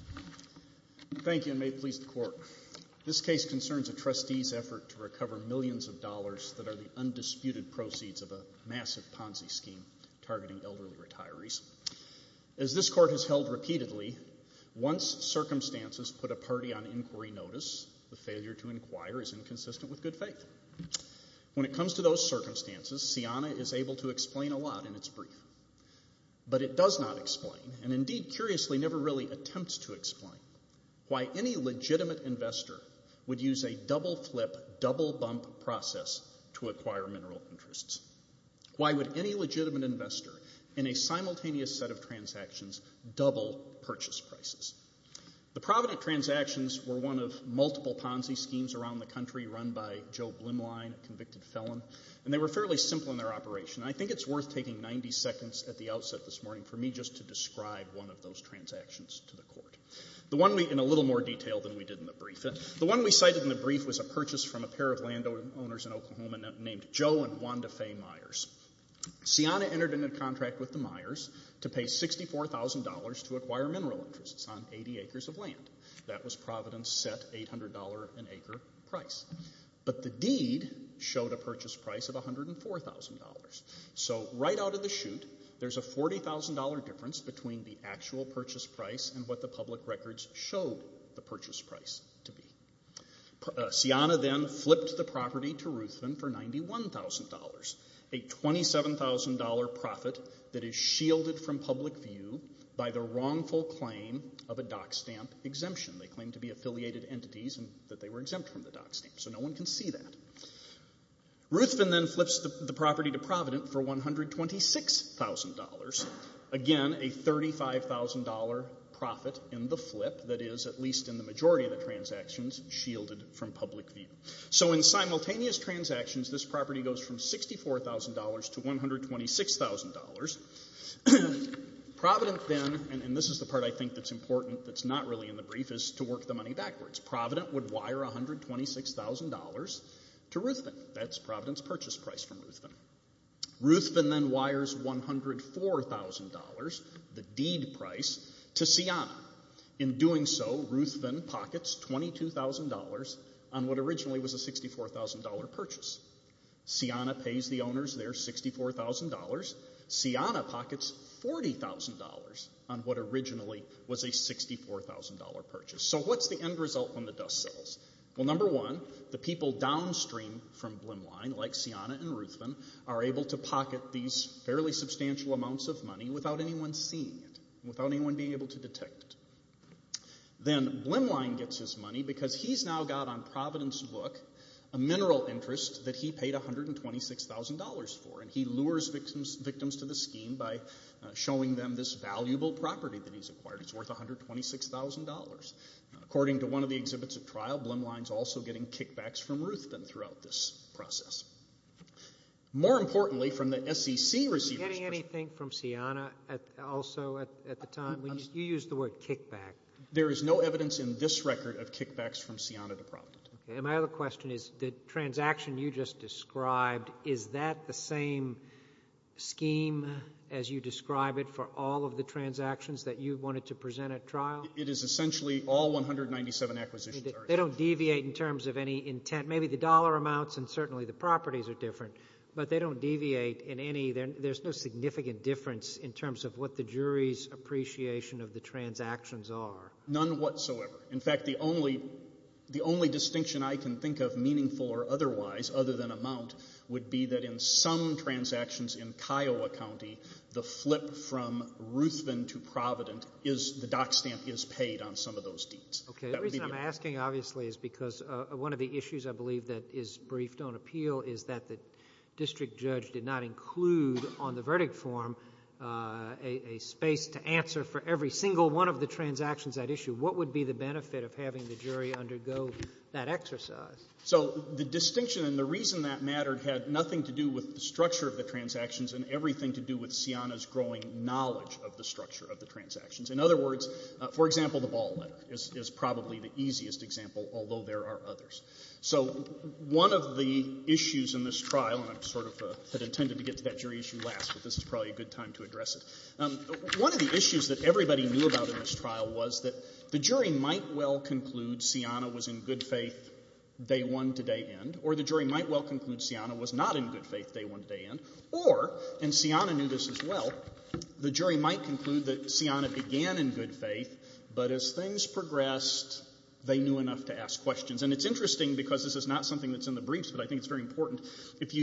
al. Thank you and may it please the Court. This case concerns a trustee's effort to recover millions of dollars that are the undisputed proceeds of a massive Ponzi scheme targeting elderly retirees. As this Court has held repeatedly, once circumstances put a party on inquiry notice, the failure to inquire is inconsistent with good faith. When it comes to those circumstances, CIANA is able to explain a lot in its brief. But it does not explain, and indeed curiously never really attempts to explain, why any legitimate investor would use a double-flip, double-bump process to acquire mineral interests. Why would any legitimate investor in a simultaneous set of transactions double purchase prices? The Provident transactions were one of multiple Ponzi schemes around the country run by Joe Blimline, a convicted felon, and they were fairly simple in their operation. I think it's worth taking 90 seconds at the outset this morning for me just to describe one of those transactions to the Court, the one in a little more detail than we did in the brief. The one we cited in the brief was a purchase from a pair of landowners in Oklahoma named Joe and Wanda Faye Myers. CIANA entered into a contract with the Myers to pay $64,000 to acquire mineral interests on 80 acres of land. That was Provident's set $800 an acre price. But the deed showed a purchase price of $104,000. So right out of the chute, there's a $40,000 difference between the actual purchase price and what the public records showed the purchase price to be. CIANA then flipped the property to Ruthven for $91,000, a $27,000 profit that is shielded from public view by the wrongful claim of a Dock Stamp exemption. They claimed to be affiliated entities and that they were exempt from the Dock Stamp, so no one can see that. Ruthven then flips the property to Provident for $126,000, again a $35,000 profit in the case shielded from public view. So in simultaneous transactions, this property goes from $64,000 to $126,000. Provident then, and this is the part I think that's important that's not really in the brief, is to work the money backwards. Provident would wire $126,000 to Ruthven. That's Provident's purchase price from Ruthven. Ruthven then wires $104,000, the deed price, to CIANA. In doing so, Ruthven pockets $22,000 on what originally was a $64,000 purchase. CIANA pays the owners their $64,000. CIANA pockets $40,000 on what originally was a $64,000 purchase. So what's the end result when the dust settles? Well, number one, the people downstream from Blimline, like CIANA and Ruthven, are able to pocket these fairly substantial amounts of money without anyone seeing it, without anyone being able to detect it. Then, Blimline gets his money because he's now got on Provident's book a mineral interest that he paid $126,000 for, and he lures victims to the scheme by showing them this valuable property that he's acquired. It's worth $126,000. According to one of the exhibits at trial, Blimline's also getting kickbacks from Ruthven throughout this process. More importantly, from the SEC receivers... Were you getting anything from CIANA also at the time? You used the word kickback. There is no evidence in this record of kickbacks from CIANA to Provident. And my other question is, the transaction you just described, is that the same scheme as you describe it for all of the transactions that you wanted to present at trial? It is essentially all 197 acquisitions. They don't deviate in terms of any intent. Maybe the dollar amounts and certainly the properties are different, but they don't deviate in any...there's no significant difference in terms of what the jury's appreciation of the transactions are. None whatsoever. In fact, the only distinction I can think of, meaningful or otherwise, other than amount, would be that in some transactions in Kiowa County, the flip from Ruthven to Provident is the dock stamp is paid on some of those deeds. Okay. The reason I'm asking, obviously, is because one of the issues I believe that is briefed appeal is that the district judge did not include on the verdict form a space to answer for every single one of the transactions at issue. What would be the benefit of having the jury undergo that exercise? So the distinction and the reason that mattered had nothing to do with the structure of the transactions and everything to do with CIANA's growing knowledge of the structure of the transactions. In other words, for example, the ball letter is probably the easiest example, although there are others. So one of the issues in this trial, and I sort of had intended to get to that jury issue last, but this is probably a good time to address it. One of the issues that everybody knew about in this trial was that the jury might well conclude CIANA was in good faith day one to day end, or the jury might well conclude CIANA was not in good faith day one to day end, or, and CIANA knew this as well, the jury might conclude that CIANA began in good faith, but as things progressed, they knew enough to ask questions. And it's interesting because this is not something that's in the briefs, but I think it's very important. If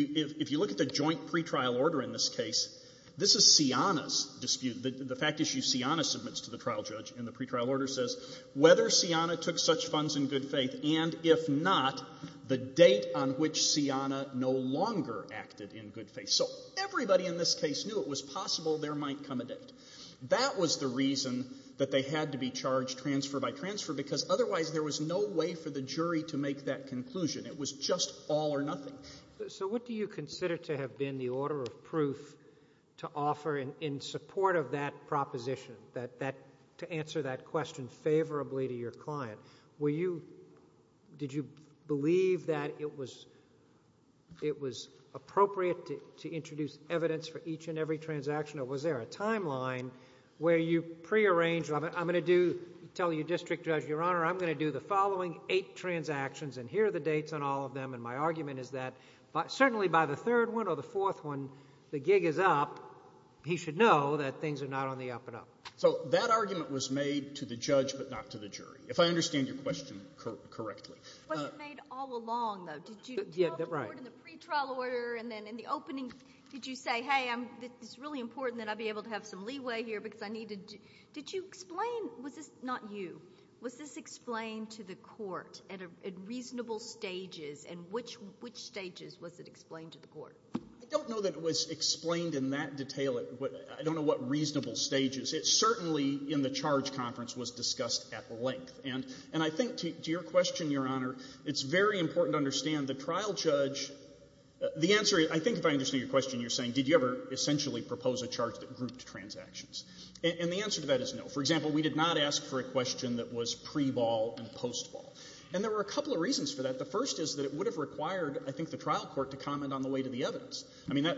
you look at the joint pretrial order in this case, this is CIANA's dispute. The fact issue CIANA submits to the trial judge in the pretrial order says whether CIANA took such funds in good faith and, if not, the date on which CIANA no longer acted in good faith. So everybody in this case knew it was possible there might come a date. That was the reason that they had to be charged transfer by transfer because otherwise there was no way for the jury to make that conclusion. It was just all or nothing. So what do you consider to have been the order of proof to offer in support of that proposition, to answer that question favorably to your client? Were you, did you believe that it was appropriate to introduce evidence for each and every transaction, or was there a timeline where you prearranged, I'm going to do the following eight transactions, and here are the dates on all of them, and my argument is that certainly by the third one or the fourth one, the gig is up. He should know that things are not on the up and up. So that argument was made to the judge but not to the jury, if I understand your question correctly. It wasn't made all along, though. Did you tell the court in the pretrial order and then in the opening, did you say, hey, it's really important that I be able to have some leeway here because I need to, did you explain, was this not you? Was this explained to the court at reasonable stages, and which stages was it explained to the court? I don't know that it was explained in that detail. I don't know what reasonable stages. It certainly, in the charge conference, was discussed at length. And I think to your question, Your Honor, it's very important to understand the trial judge, the answer, I think if I understand your question, you're saying did you ever essentially propose a charge that grouped transactions. And the answer to that is no. For example, we did not ask for a question that was pre-ball and post-ball. And there were a couple of reasons for that. The first is that it would have required, I think, the trial court to comment on the weight of the evidence. I mean,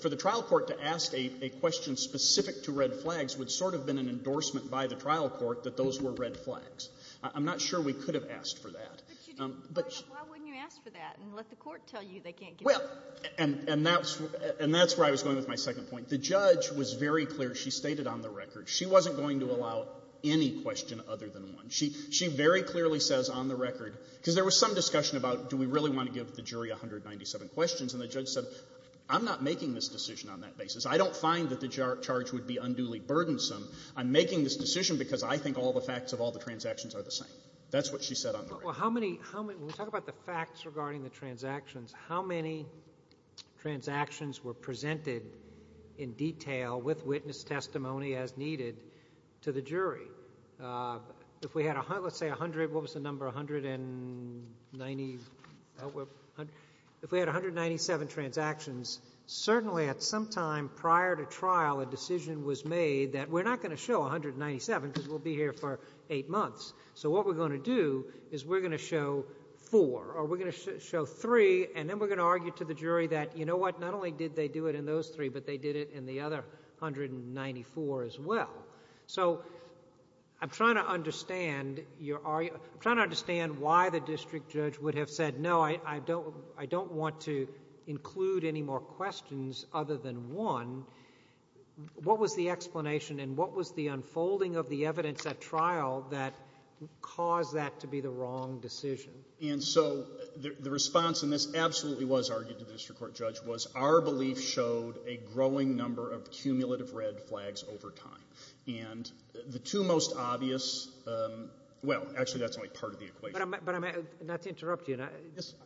for the trial court to ask a question specific to red flags would sort of have been an endorsement by the trial court that those were red flags. I'm not sure we could have asked for that. But you did. Why wouldn't you ask for that and let the court tell you they can't get it? Well, and that's where I was going with my second point. The judge was very clear. She stated on the record. She wasn't going to allow any question other than one. She very clearly says on the record, because there was some discussion about do we really want to give the jury 197 questions, and the judge said I'm not making this decision on that basis. I don't find that the charge would be unduly burdensome. I'm making this decision because I think all the facts of all the transactions are the same. That's what she said on the record. Well, how many – when we talk about the facts regarding the transactions, how many transactions were presented in detail with witness testimony as needed to the jury? If we had, let's say, 100 – what was the number? A hundred and ninety – if we had 197 transactions, certainly at some time prior to trial a decision was made that we're not going to show 197 because we'll be here for eight months. So what we're going to do is we're going to show four, or we're going to show three, and then we're going to argue to the jury that, you know what, not only did they do it in those three, but they did it in the other 194 as well. So I'm trying to understand your – I'm trying to understand why the district judge would have said no, I don't want to include any more questions other than one. What was the explanation and what was the unfolding of the evidence at trial that caused that to be the wrong decision? And so the response, and this absolutely was argued to the district court judge, was our belief showed a growing number of cumulative red flags over time. And the two most obvious – well, actually that's only part of the equation. But I'm – not to interrupt you.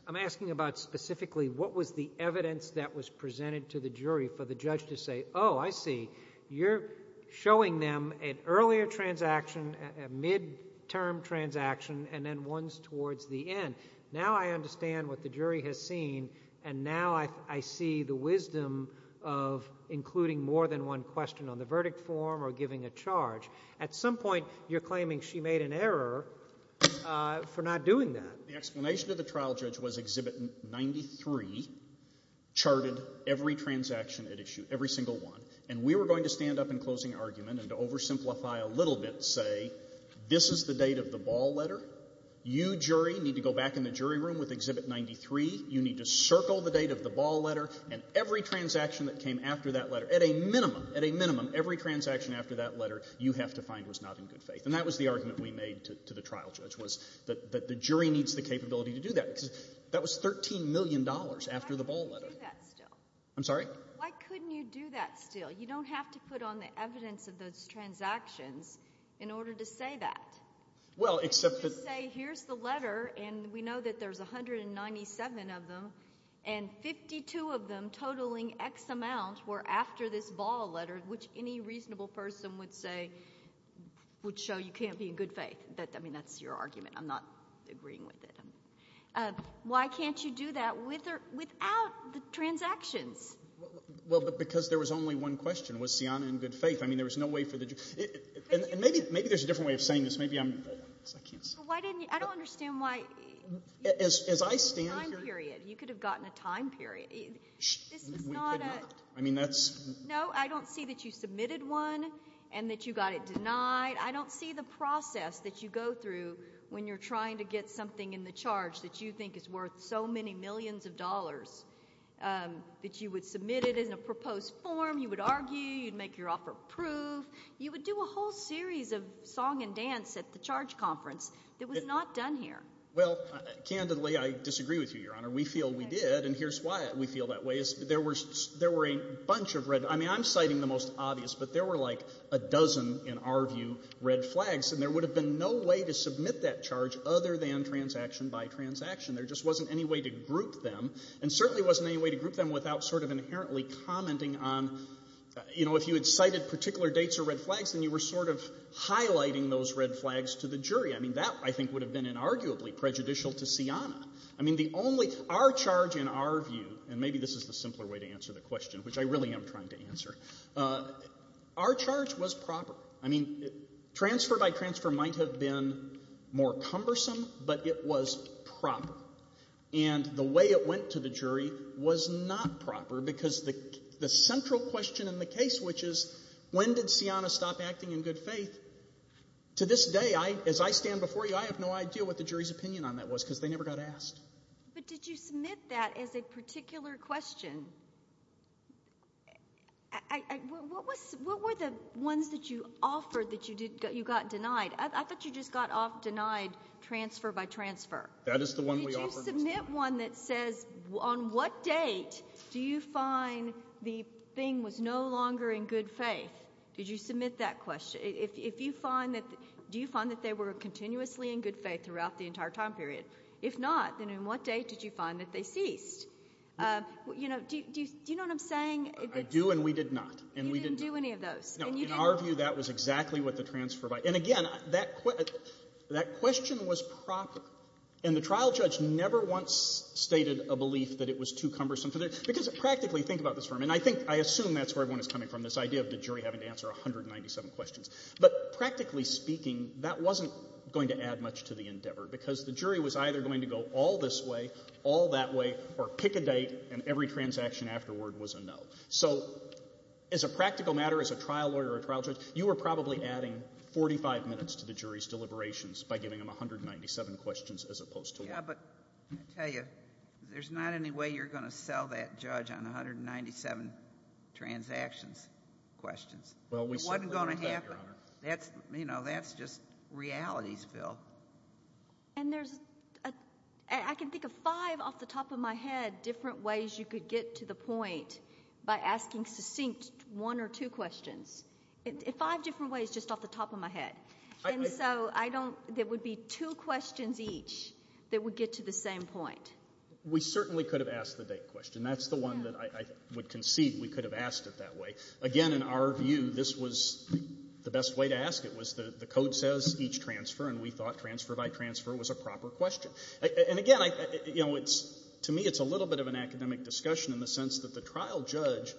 I'm asking about specifically what was the evidence that was presented to the jury for the judge to say, oh, I see, you're showing them an earlier transaction, a mid-term transaction, and then ones towards the end. Now I understand what the jury has seen, and now I see the wisdom of including more than one question on the verdict form or giving a charge. At some point you're claiming she made an error for not doing that. The explanation to the trial judge was Exhibit 93 charted every transaction at issue, every single one, and we were going to stand up in closing argument and to oversimplify a little bit, say this is the date of the ball letter. You, jury, need to go back in the jury room with Exhibit 93. You need to circle the date of the ball letter. And every transaction that came after that letter, at a minimum, at a minimum, every transaction after that letter you have to find was not in good faith. And that was the argument we made to the trial judge, was that the jury needs the capability to do that, because that was $13 million after the ball letter. Why couldn't you do that still? I'm sorry? Why couldn't you do that still? You don't have to put on the evidence of those transactions in order to say that. Well, except that— You can't just say here's the letter, and we know that there's 197 of them, and 52 of them totaling X amount were after this ball letter, which any reasonable person would say would show you can't be in good faith. I mean, that's your argument. I'm not agreeing with it. Why can't you do that without the transactions? Well, because there was only one question. Was Siana in good faith? I mean, there was no way for the jury— And maybe there's a different way of saying this. Maybe I'm—I can't say. I don't understand why— As I stand here— You could have gotten a time period. We could not. I mean, that's— No, I don't see that you submitted one and that you got it denied. I don't see the process that you go through when you're trying to get something in the charge that you think is worth so many millions of dollars, that you would submit it in a proposed form, you would argue, you'd make your offer approved. You would do a whole series of song and dance at the charge conference. It was not done here. Well, candidly, I disagree with you, Your Honor. We feel we did, and here's why we feel that way. There were a bunch of red—I mean, I'm citing the most obvious, but there were like a dozen, in our view, red flags, and there would have been no way to submit that charge other than transaction by transaction. There just wasn't any way to group them, and certainly wasn't any way to group them without sort of inherently commenting on, you know, if you had cited particular dates or red flags, then you were sort of highlighting those red flags to the jury. I mean, that, I think, would have been inarguably prejudicial to Sianna. I mean, the only—our charge, in our view, and maybe this is the simpler way to answer the question, which I really am trying to answer, our charge was proper. I mean, transfer by transfer might have been more cumbersome, but it was proper. And the way it went to the jury was not proper because the central question in the case, which is when did Sianna stop acting in good faith, to this day, as I stand before you, I have no idea what the jury's opinion on that was because they never got asked. But did you submit that as a particular question? What were the ones that you offered that you got denied? I thought you just got denied transfer by transfer. That is the one we offered. Did you submit one that says on what date do you find the thing was no longer in good faith? Did you submit that question? Do you find that they were continuously in good faith throughout the entire time period? If not, then on what date did you find that they ceased? Do you know what I'm saying? I do and we did not. You didn't do any of those. No. In our view, that was exactly what the transfer by. And again, that question was proper. And the trial judge never once stated a belief that it was too cumbersome. Because practically, think about this for a minute. I assume that's where everyone is coming from, this idea of the jury having to answer 197 questions. But practically speaking, that wasn't going to add much to the endeavor because the jury was either going to go all this way, all that way, or pick a date and every transaction afterward was a no. So, as a practical matter, as a trial lawyer or a trial judge, you were probably adding 45 minutes to the jury's deliberations by giving them 197 questions as opposed to one. Yeah, but I tell you, there's not any way you're going to sell that judge on 197 transactions questions. Well, we certainly didn't do that, Your Honor. It wasn't going to happen. That's just realities, Bill. And there's, I can think of five off the top of my head different ways you could get to the point by asking succinct one or two questions. Five different ways just off the top of my head. And so, I don't, there would be two questions each that would get to the same point. We certainly could have asked the date question. That's the one that I would concede we could have asked it that way. The code says each transfer, and we thought transfer by transfer was a proper question. And again, to me, it's a little bit of an academic discussion in the sense that the trial judge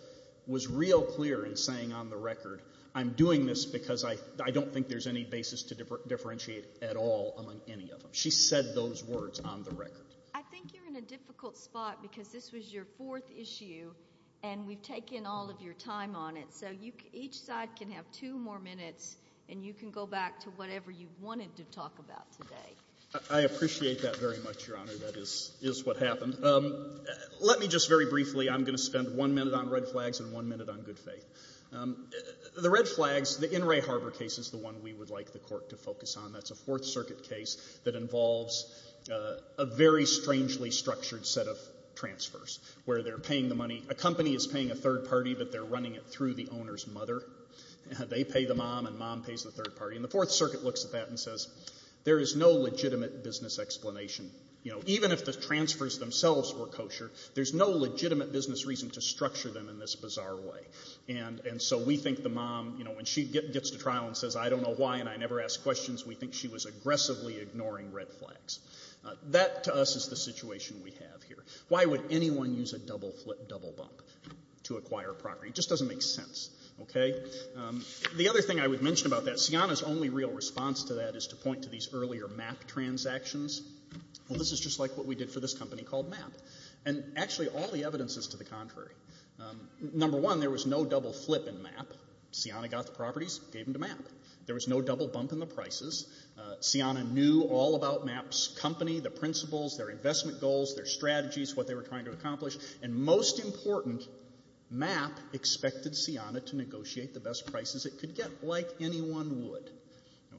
was real clear in saying on the record, I'm doing this because I don't think there's any basis to differentiate at all among any of them. She said those words on the record. I think you're in a difficult spot because this was your fourth issue, and we've taken all of your time on it. So each side can have two more minutes, and you can go back to whatever you wanted to talk about today. I appreciate that very much, Your Honor. That is what happened. Let me just very briefly, I'm going to spend one minute on red flags and one minute on good faith. The red flags, the In re Harbor case is the one we would like the court to focus on. That's a Fourth Circuit case that involves a very strangely structured set of transfers where they're paying the money. A company is paying a third party, but they're running it through the owner's mother. They pay the mom, and mom pays the third party. And the Fourth Circuit looks at that and says, there is no legitimate business explanation. Even if the transfers themselves were kosher, there's no legitimate business reason to structure them in this bizarre way. And so we think the mom, when she gets to trial and says, I don't know why, and I never ask questions, we think she was aggressively ignoring red flags. That, to us, is the situation we have here. Why would anyone use a double flip, double bump to acquire property? It just doesn't make sense. Okay? The other thing I would mention about that, Sianna's only real response to that is to point to these earlier MAP transactions. Well, this is just like what we did for this company called MAP. And actually, all the evidence is to the contrary. Number one, there was no double flip in MAP. Sianna got the properties, gave them to MAP. There was no double bump in the prices. Sianna knew all about MAP's company, the principles, their investment goals, their strategies, what they were trying to accomplish. And most important, MAP expected Sianna to negotiate the best prices it could get, like anyone would.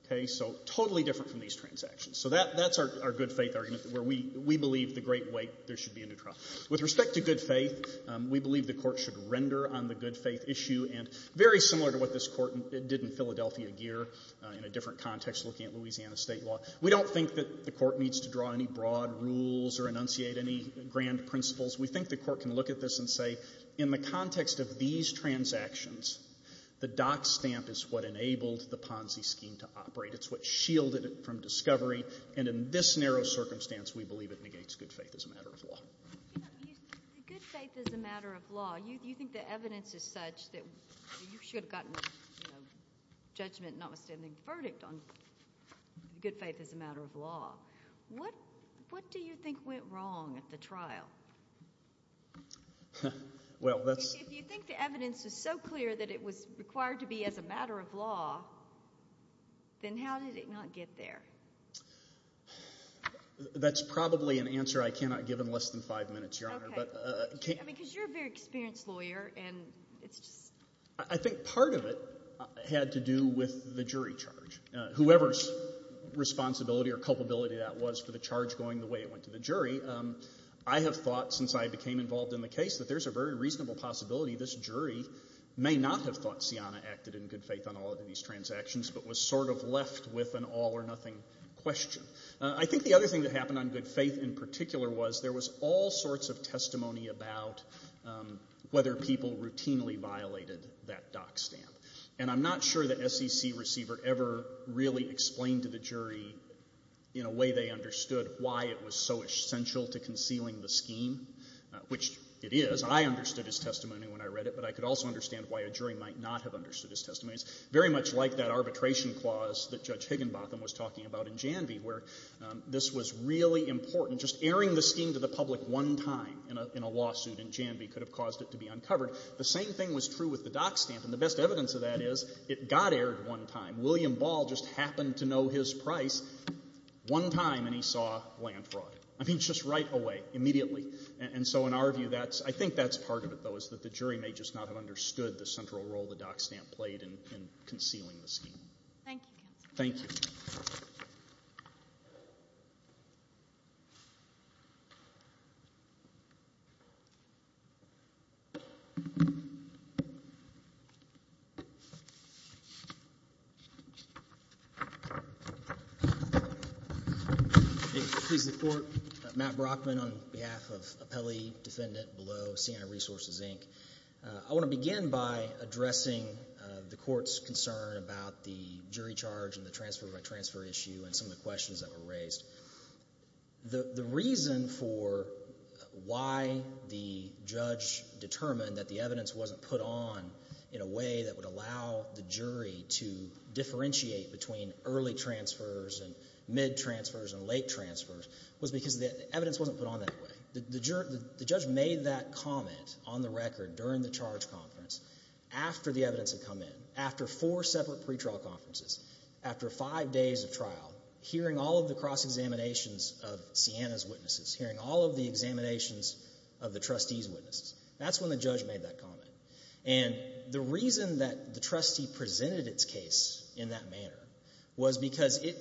Okay? So totally different from these transactions. So that's our good faith argument, where we believe the great weight, there should be a new trial. With respect to good faith, we believe the Court should render on the good faith issue, and very similar to what this Court did in Philadelphia gear, in a different context looking at Louisiana State law. We don't think that the Court needs to draw any broad rules or enunciate any grand principles. We think the Court can look at this and say, in the context of these transactions, the dock stamp is what enabled the Ponzi scheme to operate. It's what shielded it from discovery, and in this narrow circumstance, we believe it negates good faith as a matter of law. The good faith is a matter of law. You think the evidence is such that you should have gotten judgment notwithstanding the verdict on good faith as a matter of law. What do you think went wrong at the trial? If you think the evidence is so clear that it was required to be as a matter of law, then how did it not get there? That's probably an answer I cannot give in less than five minutes, Your Honor. Because you're a very experienced lawyer. I think part of it had to do with the jury charge. Whoever's responsibility or culpability that was for the charge going the way it went to the jury, I have thought since I became involved in the case that there's a very reasonable possibility this jury may not have thought Sianna acted in good faith on all of these transactions but was sort of left with an all-or-nothing question. I think the other thing that happened on good faith in particular was there was all sorts of testimony about whether people routinely violated that dock stamp. And I'm not sure the SEC receiver ever really explained to the jury in a way they understood why it was so essential to concealing the scheme, which it is. I understood his testimony when I read it, but I could also understand why a jury might not have understood his testimony. It's very much like that arbitration clause that Judge Higginbotham was talking about in Janvey where this was really important. Just airing the scheme to the public one time in a lawsuit in Janvey could have caused it to be uncovered. The same thing was true with the dock stamp, and the best evidence of that is it got aired one time. William Ball just happened to know his price one time, and he saw land fraud. I mean, just right away, immediately. And so in our view, I think that's part of it, though, is that the jury may just not have understood the central role the dock stamp played in concealing the scheme. Thank you, counsel. Thank you. Please report. Matt Brockman on behalf of appellee defendant below, Siena Resources, Inc. I want to begin by addressing the court's concern about the jury charge and the transfer-by-transfer issue and some of the questions that were raised. The reason for why the judge determined that the evidence wasn't put on in a way that would allow the jury to differentiate between early transfers and mid-transfers and late transfers was because the evidence wasn't put on that way. The judge made that comment on the record during the charge conference after the evidence had come in, after four separate pretrial conferences, after five days of trial, hearing all of the cross-examinations of Siena's witnesses, hearing all of the examinations of the trustee's witnesses. That's when the judge made that comment. And the reason that the trustee presented its case in that manner was because it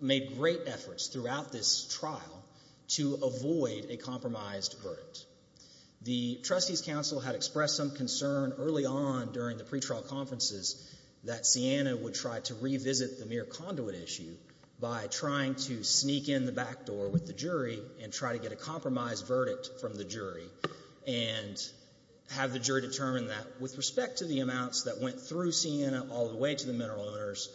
made great efforts throughout this trial to avoid a compromised verdict. The trustee's counsel had expressed some concern early on during the pretrial conferences that Siena would try to revisit the mere conduit issue by trying to sneak in the back door with the jury and try to get a compromised verdict from the jury and have the jury determine that with respect to the amounts that went through Siena all the way to the mineral owners,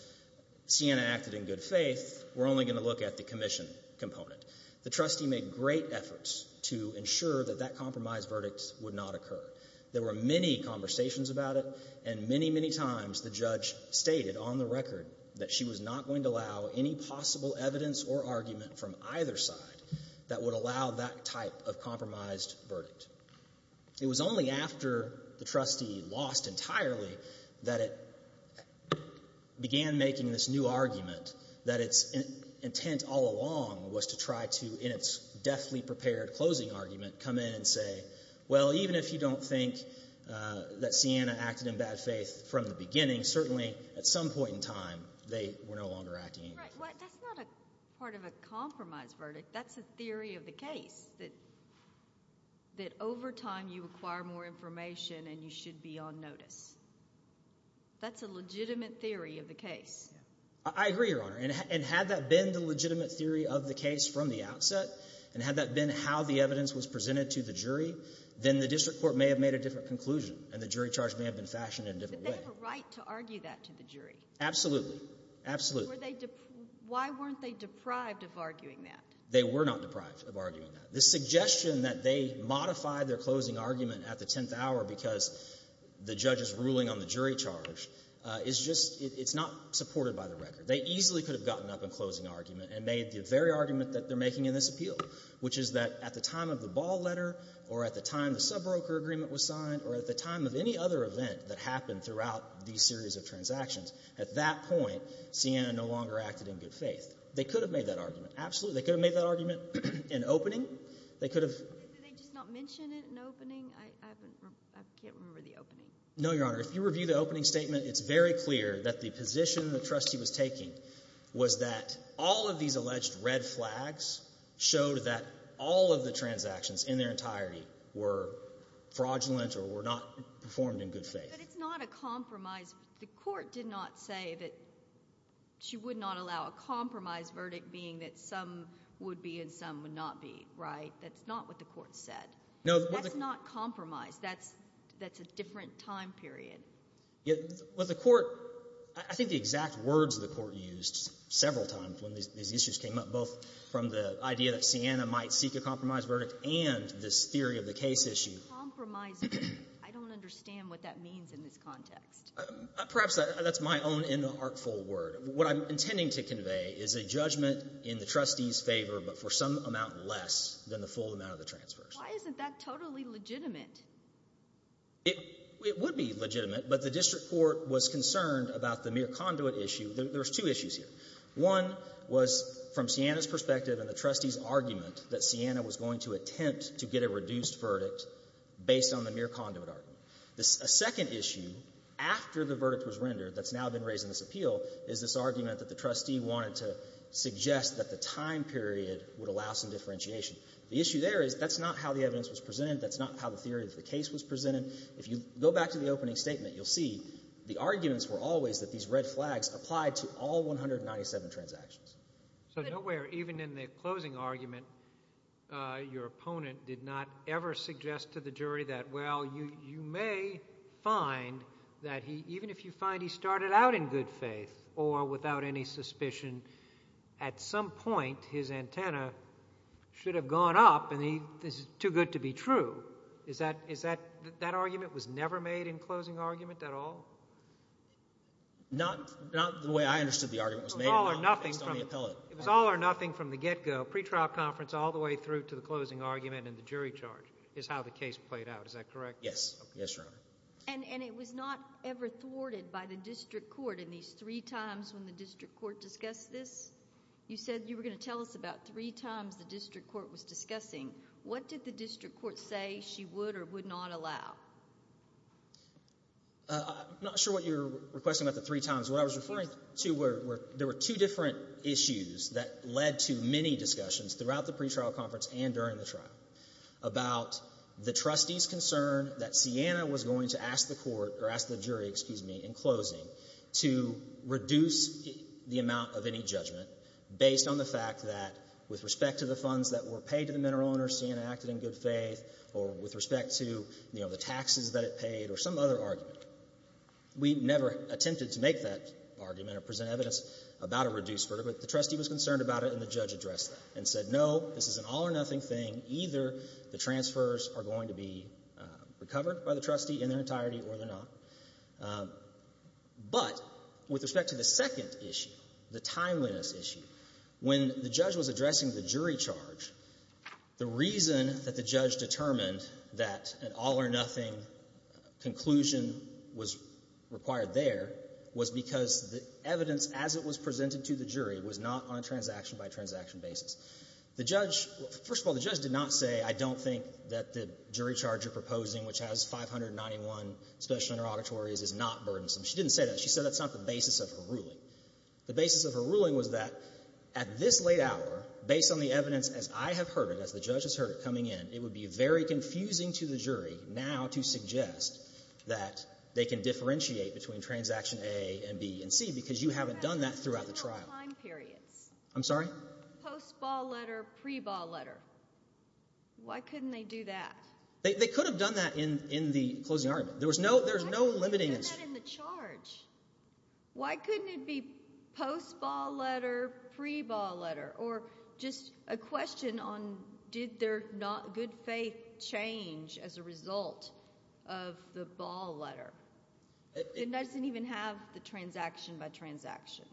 Siena acted in good faith. We're only going to look at the commission component. The trustee made great efforts to ensure that that compromised verdict would not occur. There were many conversations about it, and many, many times the judge stated on the record that she was not going to allow any possible evidence or argument from either side that would allow that type of compromised verdict. It was only after the trustee lost entirely that it began making this new argument that its intent all along was to try to, in its deathly prepared closing argument, come in and say, well, even if you don't think that Siena acted in bad faith from the beginning, certainly at some point in time they were no longer acting in good faith. That's not a part of a compromised verdict. That's a theory of the case that over time you acquire more information and you should be on notice. That's a legitimate theory of the case. I agree, Your Honor, and had that been the legitimate theory of the case from the outset and had that been how the evidence was presented to the jury, then the district court may have made a different conclusion and the jury charge may have been fashioned in a different way. But they have a right to argue that to the jury. Absolutely. Absolutely. So were they — why weren't they deprived of arguing that? They were not deprived of arguing that. The suggestion that they modified their closing argument at the tenth hour because the judge is ruling on the jury charge is just — it's not supported by the record. They easily could have gotten up in closing argument and made the very argument that they're making in this appeal, which is that at the time of the ball letter or at the time the subbroker agreement was signed or at the time of any other event that happened throughout these series of transactions, at that point, Sienna no longer acted in good faith. They could have made that argument. Absolutely. They could have made that argument in opening. They could have — Did they just not mention it in opening? I haven't — I can't remember the opening. No, Your Honor. If you review the opening statement, it's very clear that the position the trustee was taking was that all of these alleged red flags showed that all of the transactions in their entirety were fraudulent or were not performed in good faith. But it's not a compromise. The court did not say that she would not allow a compromise verdict, being that some would be and some would not be, right? That's not what the court said. That's not compromise. That's a different time period. Well, the court — I think the exact words the court used several times when these issues came up, both from the idea that Sienna might seek a compromise verdict and this theory of the case issue. Compromise — I don't understand what that means in this context. Perhaps that's my own inartful word. What I'm intending to convey is a judgment in the trustee's favor, but for some amount less than the full amount of the transfers. Why isn't that totally legitimate? It would be legitimate, but the district court was concerned about the mere conduit issue. There's two issues here. One was from Sienna's perspective and the trustee's argument that Sienna was going to attempt to get a reduced verdict based on the mere conduit argument. A second issue after the verdict was rendered that's now been raised in this appeal is this argument that the trustee wanted to suggest that the time period would allow some differentiation. The issue there is that's not how the evidence was presented. That's not how the theory of the case was presented. If you go back to the opening statement, you'll see the arguments were always that these red flags applied to all 197 transactions. So nowhere, even in the closing argument, your opponent did not ever suggest to the jury that, well, you may find that even if you find he started out in good faith or without any suspicion, at some point his antenna should have gone up and this is too good to be true. Is that argument was never made in closing argument at all? Not the way I understood the argument was made based on the appellate. It was all or nothing from the get-go, pre-trial conference all the way through to the closing argument and the jury charge is how the case played out. Is that correct? Yes. Yes, Your Honor. And it was not ever thwarted by the district court in these three times when the district court discussed this? You said you were going to tell us about three times the district court was discussing. What did the district court say she would or would not allow? I'm not sure what you're requesting about the three times. What I was referring to were there were two different issues that led to many discussions throughout the pre-trial conference and during the trial about the trustee's concern that Sienna was going to ask the court or ask the jury, excuse me, in closing to reduce the amount of any judgment based on the fact that with respect to the funds that were paid to the mineral owner, Sienna acted in good faith or with respect to, you know, the taxes that it paid or some other argument. We never attempted to make that argument or present evidence about a reduced verdict, but the trustee was concerned about it and the judge addressed that and said, no, this is an all or nothing thing. Either the transfers are going to be recovered by the trustee in their entirety or they're not. But with respect to the second issue, the timeliness issue, when the judge was addressing the jury charge, the reason that the judge determined that an all or nothing conclusion was required there was because the evidence as it was presented to the jury was not on a transaction-by-transaction basis. The judge, first of all, the judge did not say I don't think that the jury charge you're proposing, which has 591 special interrogatories, is not burdensome. She didn't say that. She said that's not the basis of her ruling. The basis of her ruling was that at this late hour, based on the evidence as I have heard it, as the judge has heard it coming in, it would be very confusing to the jury now to suggest that they can differentiate between transaction A and B and C because you haven't done that throughout the trial. I'm sorry? Post-ball letter, pre-ball letter. Why couldn't they do that? They could have done that in the closing argument. There was no limiting issue. Why couldn't they do that in the charge? Why couldn't it be post-ball letter, pre-ball letter, or just a question on did their good faith change as a result of the ball letter? It doesn't even have the transaction-by-transaction.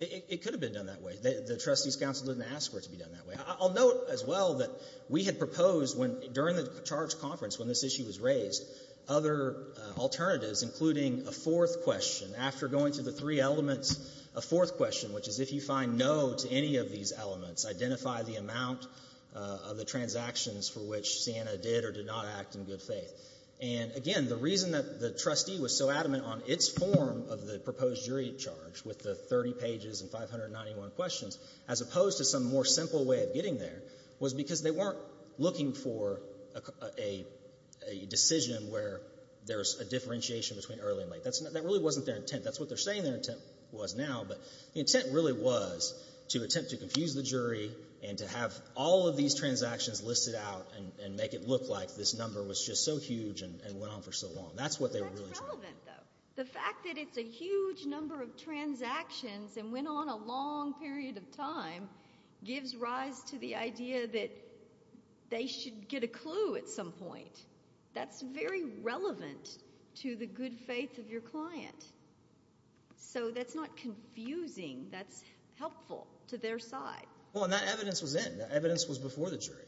It could have been done that way. The trustees' counsel didn't ask for it to be done that way. I'll note as well that we had proposed during the charge conference when this issue was raised, other alternatives, including a fourth question. After going through the three elements, a fourth question, which is if you find no to any of these elements, identify the amount of the transactions for which Sienna did or did not act in good faith. And, again, the reason that the trustee was so adamant on its form of the proposed jury charge with the 30 pages and 591 questions as opposed to some more simple way of getting there was because they weren't looking for a decision where there's a differentiation between early and late. That really wasn't their intent. That's what they're saying their intent was now. But the intent really was to attempt to confuse the jury and to have all of these transactions listed out and make it look like this number was just so huge and went on for so long. That's what they were really trying to do. That's relevant, though. But the fact that it's a huge number of transactions and went on a long period of time gives rise to the idea that they should get a clue at some point. That's very relevant to the good faith of your client. So that's not confusing. That's helpful to their side. Well, and that evidence was in. That evidence was before the jury.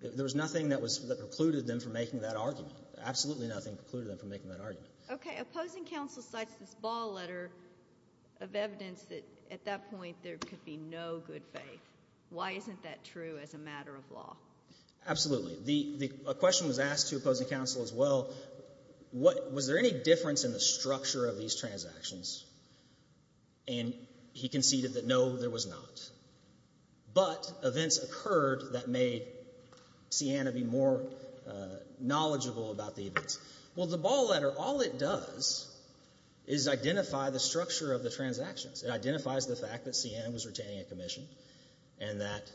There was nothing that precluded them from making that argument. Absolutely nothing precluded them from making that argument. Okay. Opposing counsel cites this ball letter of evidence that at that point there could be no good faith. Why isn't that true as a matter of law? Absolutely. A question was asked to opposing counsel as well. Was there any difference in the structure of these transactions? And he conceded that no, there was not. But events occurred that made Sienna be more knowledgeable about the events. Well, the ball letter, all it does is identify the structure of the transactions. It identifies the fact that Sienna was retaining a commission and that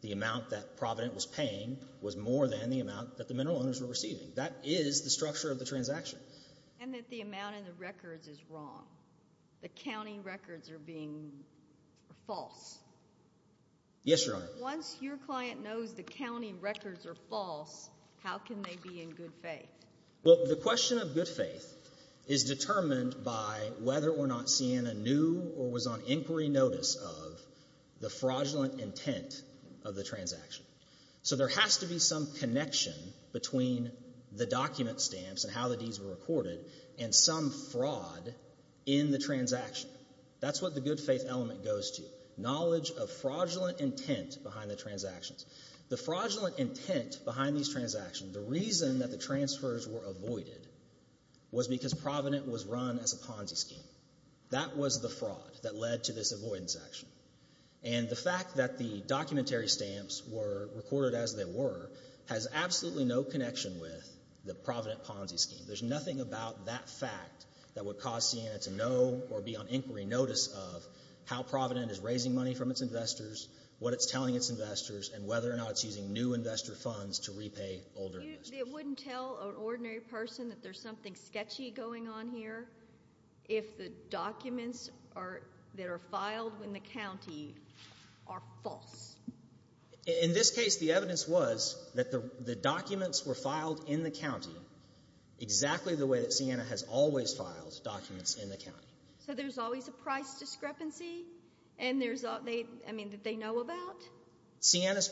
the amount that Provident was paying was more than the amount that the mineral owners were receiving. That is the structure of the transaction. And that the amount in the records is wrong. The county records are being false. Yes, Your Honor. Once your client knows the county records are false, how can they be in good faith? Well, the question of good faith is determined by whether or not Sienna knew or was on inquiry notice of the fraudulent intent of the transaction. So there has to be some connection between the document stamps and how the deeds were recorded and some fraud in the transaction. That's what the good faith element goes to, knowledge of fraudulent intent behind the transactions. The fraudulent intent behind these transactions, the reason that the transfers were avoided was because Provident was run as a Ponzi scheme. That was the fraud that led to this avoidance action. And the fact that the documentary stamps were recorded as they were has absolutely no connection with the Provident Ponzi scheme. There's nothing about that fact that would cause Sienna to know or be on inquiry notice of how Provident is raising money from its investors, what it's telling its investors, and whether or not it's using new investor funds to repay older investors. It wouldn't tell an ordinary person that there's something sketchy going on here if the documents that are filed in the county are false? In this case, the evidence was that the documents were filed in the county exactly the way that Sienna has always filed documents in the county. So there's always a price discrepancy that they know about? Sienna's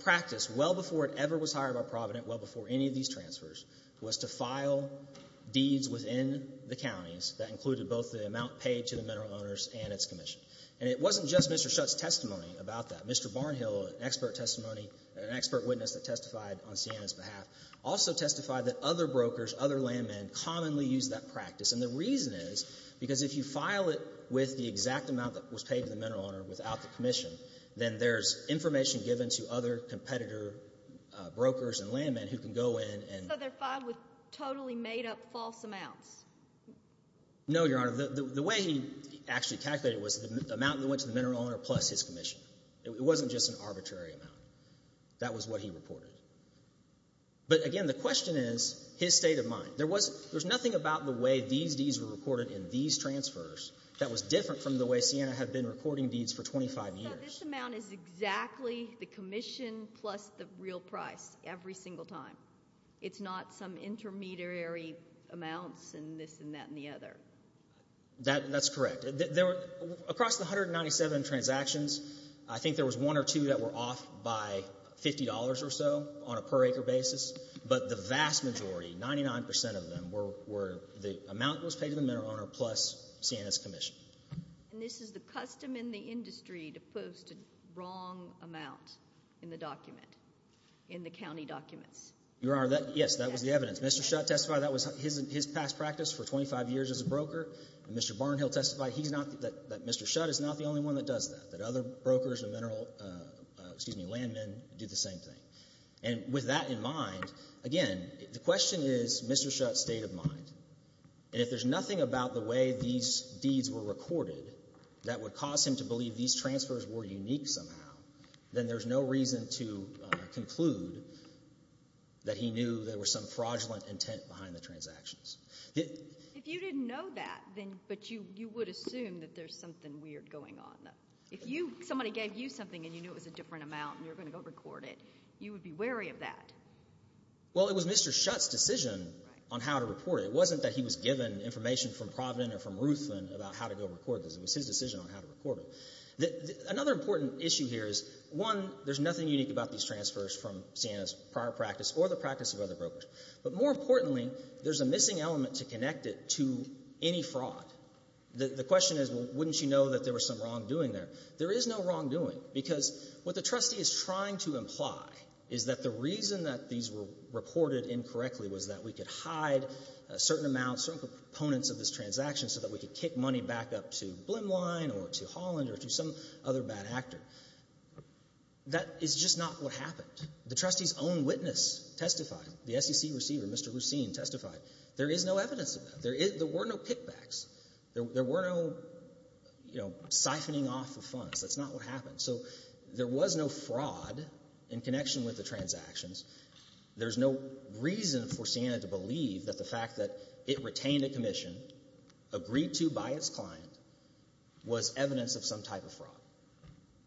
practice, well before it ever was hired by Provident, well before any of these transfers, was to file deeds within the counties that included both the amount paid to the mineral owners and its commission. And it wasn't just Mr. Schutt's testimony about that. Mr. Barnhill, an expert testimony, an expert witness that testified on Sienna's behalf, also testified that other brokers, other landmen, commonly used that practice. And the reason is because if you file it with the exact amount that was paid to the mineral owner without the commission, then there's information given to other competitor brokers and landmen who can go in and— So they're filed with totally made-up false amounts? No, Your Honor. The way he actually calculated it was the amount that went to the mineral owner plus his commission. It wasn't just an arbitrary amount. That was what he reported. But again, the question is his state of mind. There was nothing about the way these deeds were recorded in these transfers that was different from the way Sienna had been recording deeds for 25 years. So this amount is exactly the commission plus the real price every single time. It's not some intermediary amounts and this and that and the other. That's correct. Across the 197 transactions, I think there was one or two that were off by $50 or so on a per-acre basis. But the vast majority, 99 percent of them, were the amount that was paid to the mineral owner plus Sienna's commission. And this is the custom in the industry to post a wrong amount in the document, in the county documents? Yes, that was the evidence. Mr. Shutt testified that was his past practice for 25 years as a broker. And Mr. Barnhill testified that Mr. Shutt is not the only one that does that, that other brokers and landmen do the same thing. And with that in mind, again, the question is Mr. Shutt's state of mind. And if there's nothing about the way these deeds were recorded that would cause him to believe these transfers were unique somehow, then there's no reason to conclude that he knew there was some fraudulent intent behind the transactions. If you didn't know that, but you would assume that there's something weird going on. If somebody gave you something and you knew it was a different amount and you were going to go record it, you would be wary of that. Well, it was Mr. Shutt's decision on how to report it. It wasn't that he was given information from Providence or from Ruth about how to go record this. It was his decision on how to record it. Another important issue here is, one, there's nothing unique about these transfers from Sienna's prior practice or the practice of other brokers. But more importantly, there's a missing element to connect it to any fraud. The question is, well, wouldn't you know that there was some wrongdoing there? There is no wrongdoing because what the trustee is trying to imply is that the reason that these were reported incorrectly was that we could hide certain amounts, certain components of this transaction so that we could kick money back up to Blimline or to Holland or to some other bad actor. That is just not what happened. The trustee's own witness testified. The SEC receiver, Mr. Lucene, testified. There is no evidence of that. There were no kickbacks. There were no, you know, siphoning off of funds. That's not what happened. So there was no fraud in connection with the transactions. There's no reason for Sienna to believe that the fact that it retained a commission, agreed to by its client, was evidence of some type of fraud.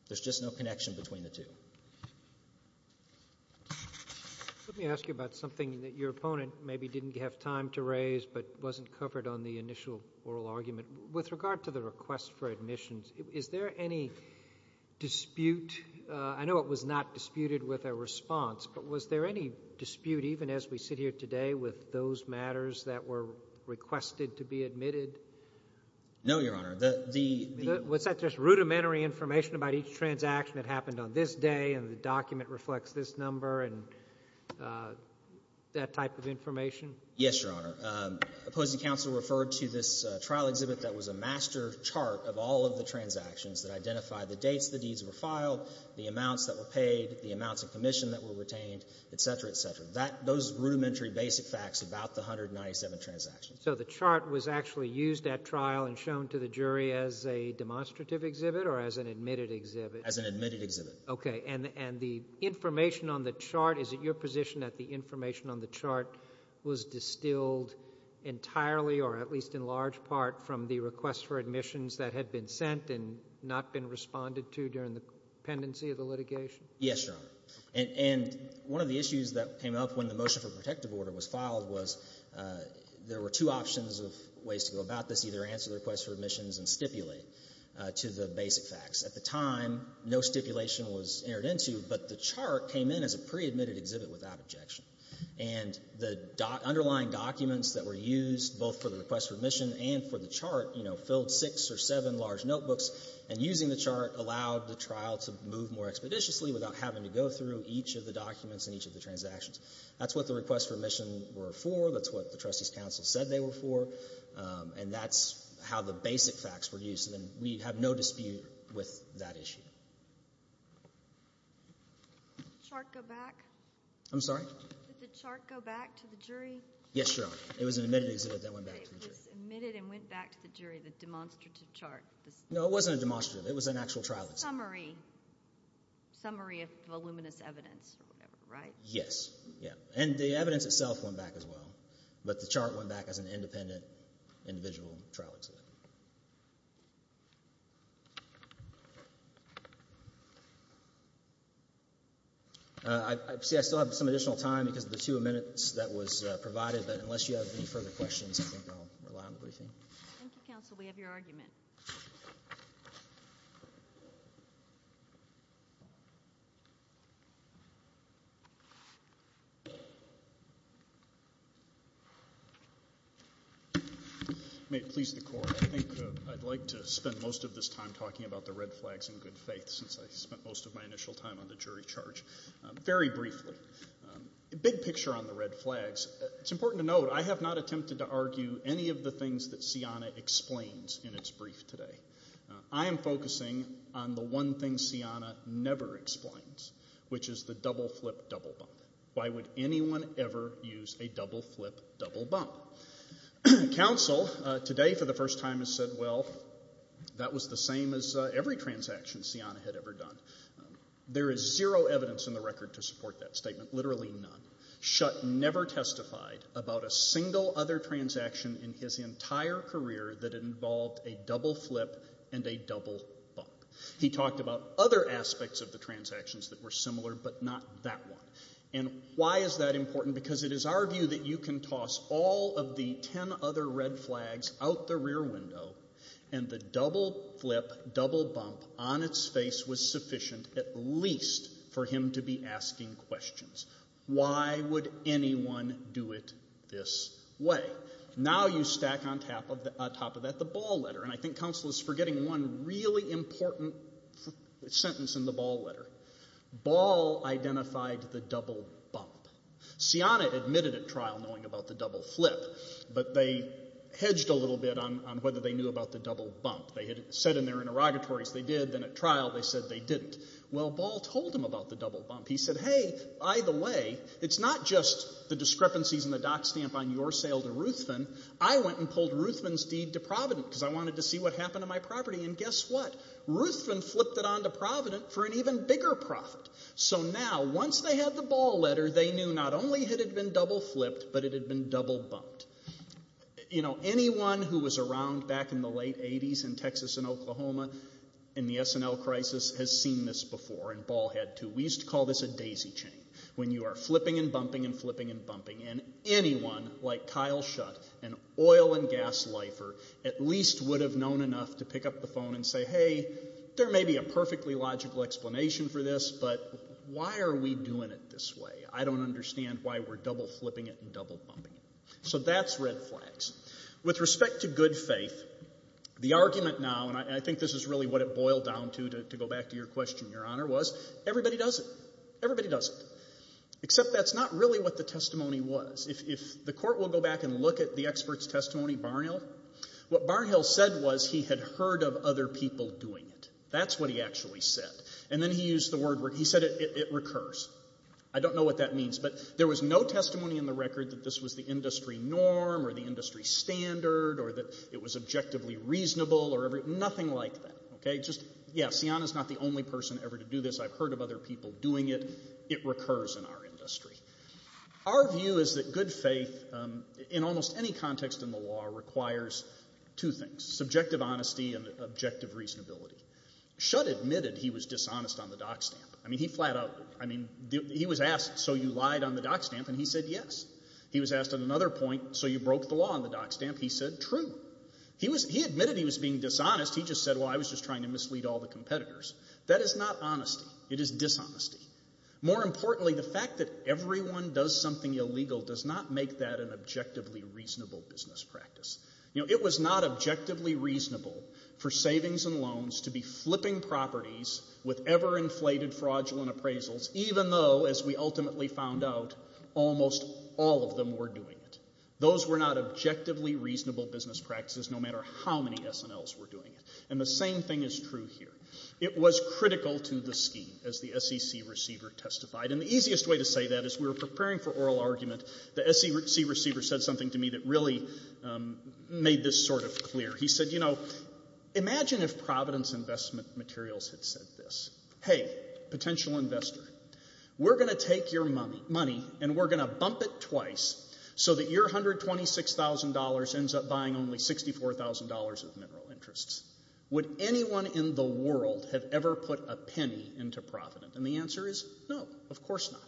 There's just no connection between the two. Let me ask you about something that your opponent maybe didn't have time to raise but wasn't covered on the initial oral argument. With regard to the request for admissions, is there any dispute? I know it was not disputed with a response, but was there any dispute even as we sit here today with those matters that were requested to be admitted? No, Your Honor. Was that just rudimentary information about each transaction that happened on this day and the document reflects this number and that type of information? Yes, Your Honor. Opposing counsel referred to this trial exhibit that was a master chart of all of the transactions that identified the dates the deeds were filed, the amounts that were paid, the amounts of commission that were retained, et cetera, et cetera. Those rudimentary basic facts about the 197 transactions. So the chart was actually used at trial and shown to the jury as a demonstrative exhibit or as an admitted exhibit? As an admitted exhibit. Okay. And the information on the chart, is it your position that the information on the chart was distilled entirely or at least in large part from the request for admissions that had been sent and not been responded to during the pendency of the litigation? Yes, Your Honor. And one of the issues that came up when the motion for protective order was filed was there were two options of ways to go about this, either answer the request for admissions and stipulate to the basic facts. At the time, no stipulation was entered into, but the chart came in as a pre-admitted exhibit without objection. And the underlying documents that were used both for the request for admission and for the chart, you know, six or seven large notebooks, and using the chart allowed the trial to move more expeditiously without having to go through each of the documents and each of the transactions. That's what the request for admission were for. That's what the trustee's counsel said they were for. And that's how the basic facts were used. And we have no dispute with that issue. Did the chart go back? I'm sorry? Did the chart go back to the jury? Yes, Your Honor. It was an admitted exhibit that went back to the jury. It was admitted and went back to the jury, the demonstrative chart. No, it wasn't a demonstrative. It was an actual trial exhibit. Summary. Summary of voluminous evidence or whatever, right? Yes. And the evidence itself went back as well. But the chart went back as an independent individual trial exhibit. See, I still have some additional time because of the two minutes that was provided. But unless you have any further questions, I think I'll rely on the briefing. Thank you, counsel. We have your argument. May it please the Court, I think I'd like to spend most of this time talking about the red flags in good faith since I spent most of my initial time on the jury charge. Very briefly, the big picture on the red flags, it's important to note I have not attempted to argue any of the things that Cianna explains in its brief today. I am focusing on the one thing Cianna never explains, which is the double flip, double bump. Why would anyone ever use a double flip, double bump? Counsel today for the first time has said, well, that was the same as every transaction Cianna had ever done. There is zero evidence in the record to support that statement, literally none. Shutt never testified about a single other transaction in his entire career that involved a double flip and a double bump. He talked about other aspects of the transactions that were similar, but not that one. And why is that important? Because it is our view that you can toss all of the ten other red flags out the rear window and the double flip, double bump on its face was sufficient at least for him to be asking questions. Why would anyone do it this way? Now you stack on top of that the Ball letter, and I think counsel is forgetting one really important sentence in the Ball letter. Ball identified the double bump. Cianna admitted at trial knowing about the double flip, but they hedged a little bit on whether they knew about the double bump. They had said in their interrogatories they did, then at trial they said they didn't. Well, Ball told him about the double bump. He said, hey, either way, it's not just the discrepancies in the dock stamp on your sale to Ruthven. I went and pulled Ruthven's deed to Providence because I wanted to see what happened to my property, and guess what? Ruthven flipped it on to Providence for an even bigger profit. So now once they had the Ball letter, they knew not only had it been double flipped, but it had been double bumped. You know, anyone who was around back in the late 80s in Texas and Oklahoma in the S&L crisis has seen this before, and Ball had too. We used to call this a daisy chain when you are flipping and bumping and flipping and bumping, and anyone like Kyle Schutt, an oil and gas lifer, at least would have known enough to pick up the phone and say, hey, there may be a perfectly logical explanation for this, but why are we doing it this way? I don't understand why we're double flipping it and double bumping it. So that's red flags. With respect to good faith, the argument now, and I think this is really what it boiled down to to go back to your question, Your Honor, was everybody does it. Everybody does it. Except that's not really what the testimony was. If the court will go back and look at the expert's testimony, Barnhill, what Barnhill said was he had heard of other people doing it. That's what he actually said. And then he used the word, he said it recurs. I don't know what that means, but there was no testimony in the record that this was the industry norm or the industry standard or that it was objectively reasonable or everything, nothing like that. Yeah, Sianna's not the only person ever to do this. I've heard of other people doing it. It recurs in our industry. Our view is that good faith in almost any context in the law requires two things, subjective honesty and objective reasonability. Schutt admitted he was dishonest on the dock stamp. I mean, he flat out, I mean, he was asked, so you lied on the dock stamp, and he said yes. He was asked at another point, so you broke the law on the dock stamp. He said true. He admitted he was being dishonest. He just said, well, I was just trying to mislead all the competitors. That is not honesty. It is dishonesty. More importantly, the fact that everyone does something illegal does not make that an objectively reasonable business practice. You know, it was not objectively reasonable for savings and loans to be flipping properties with ever-inflated fraudulent appraisals even though, as we ultimately found out, almost all of them were doing it. Those were not objectively reasonable business practices no matter how many SNLs were doing it. And the same thing is true here. It was critical to the scheme, as the SEC receiver testified. And the easiest way to say that is we were preparing for oral argument. The SEC receiver said something to me that really made this sort of clear. He said, you know, imagine if Providence Investment Materials had said this, hey, potential investor, we're going to take your money and we're going to bump it twice so that your $126,000 ends up buying only $64,000 of mineral interests. Would anyone in the world have ever put a penny into Providence? And the answer is no, of course not.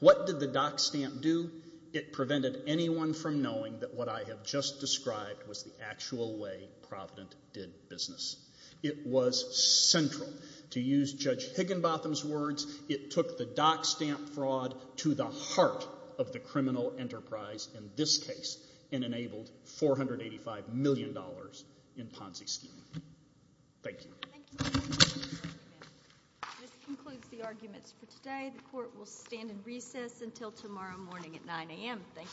What did the Dock Stamp do? It prevented anyone from knowing that what I have just described was the actual way Providence did business. It was central. To use Judge Higginbotham's words, it took the Dock Stamp fraud to the heart of the criminal enterprise in this case and enabled $485 million in Ponzi scheme. Thank you. This concludes the arguments for today. The court will stand in recess until tomorrow morning at 9 a.m. Thank you. Thank you.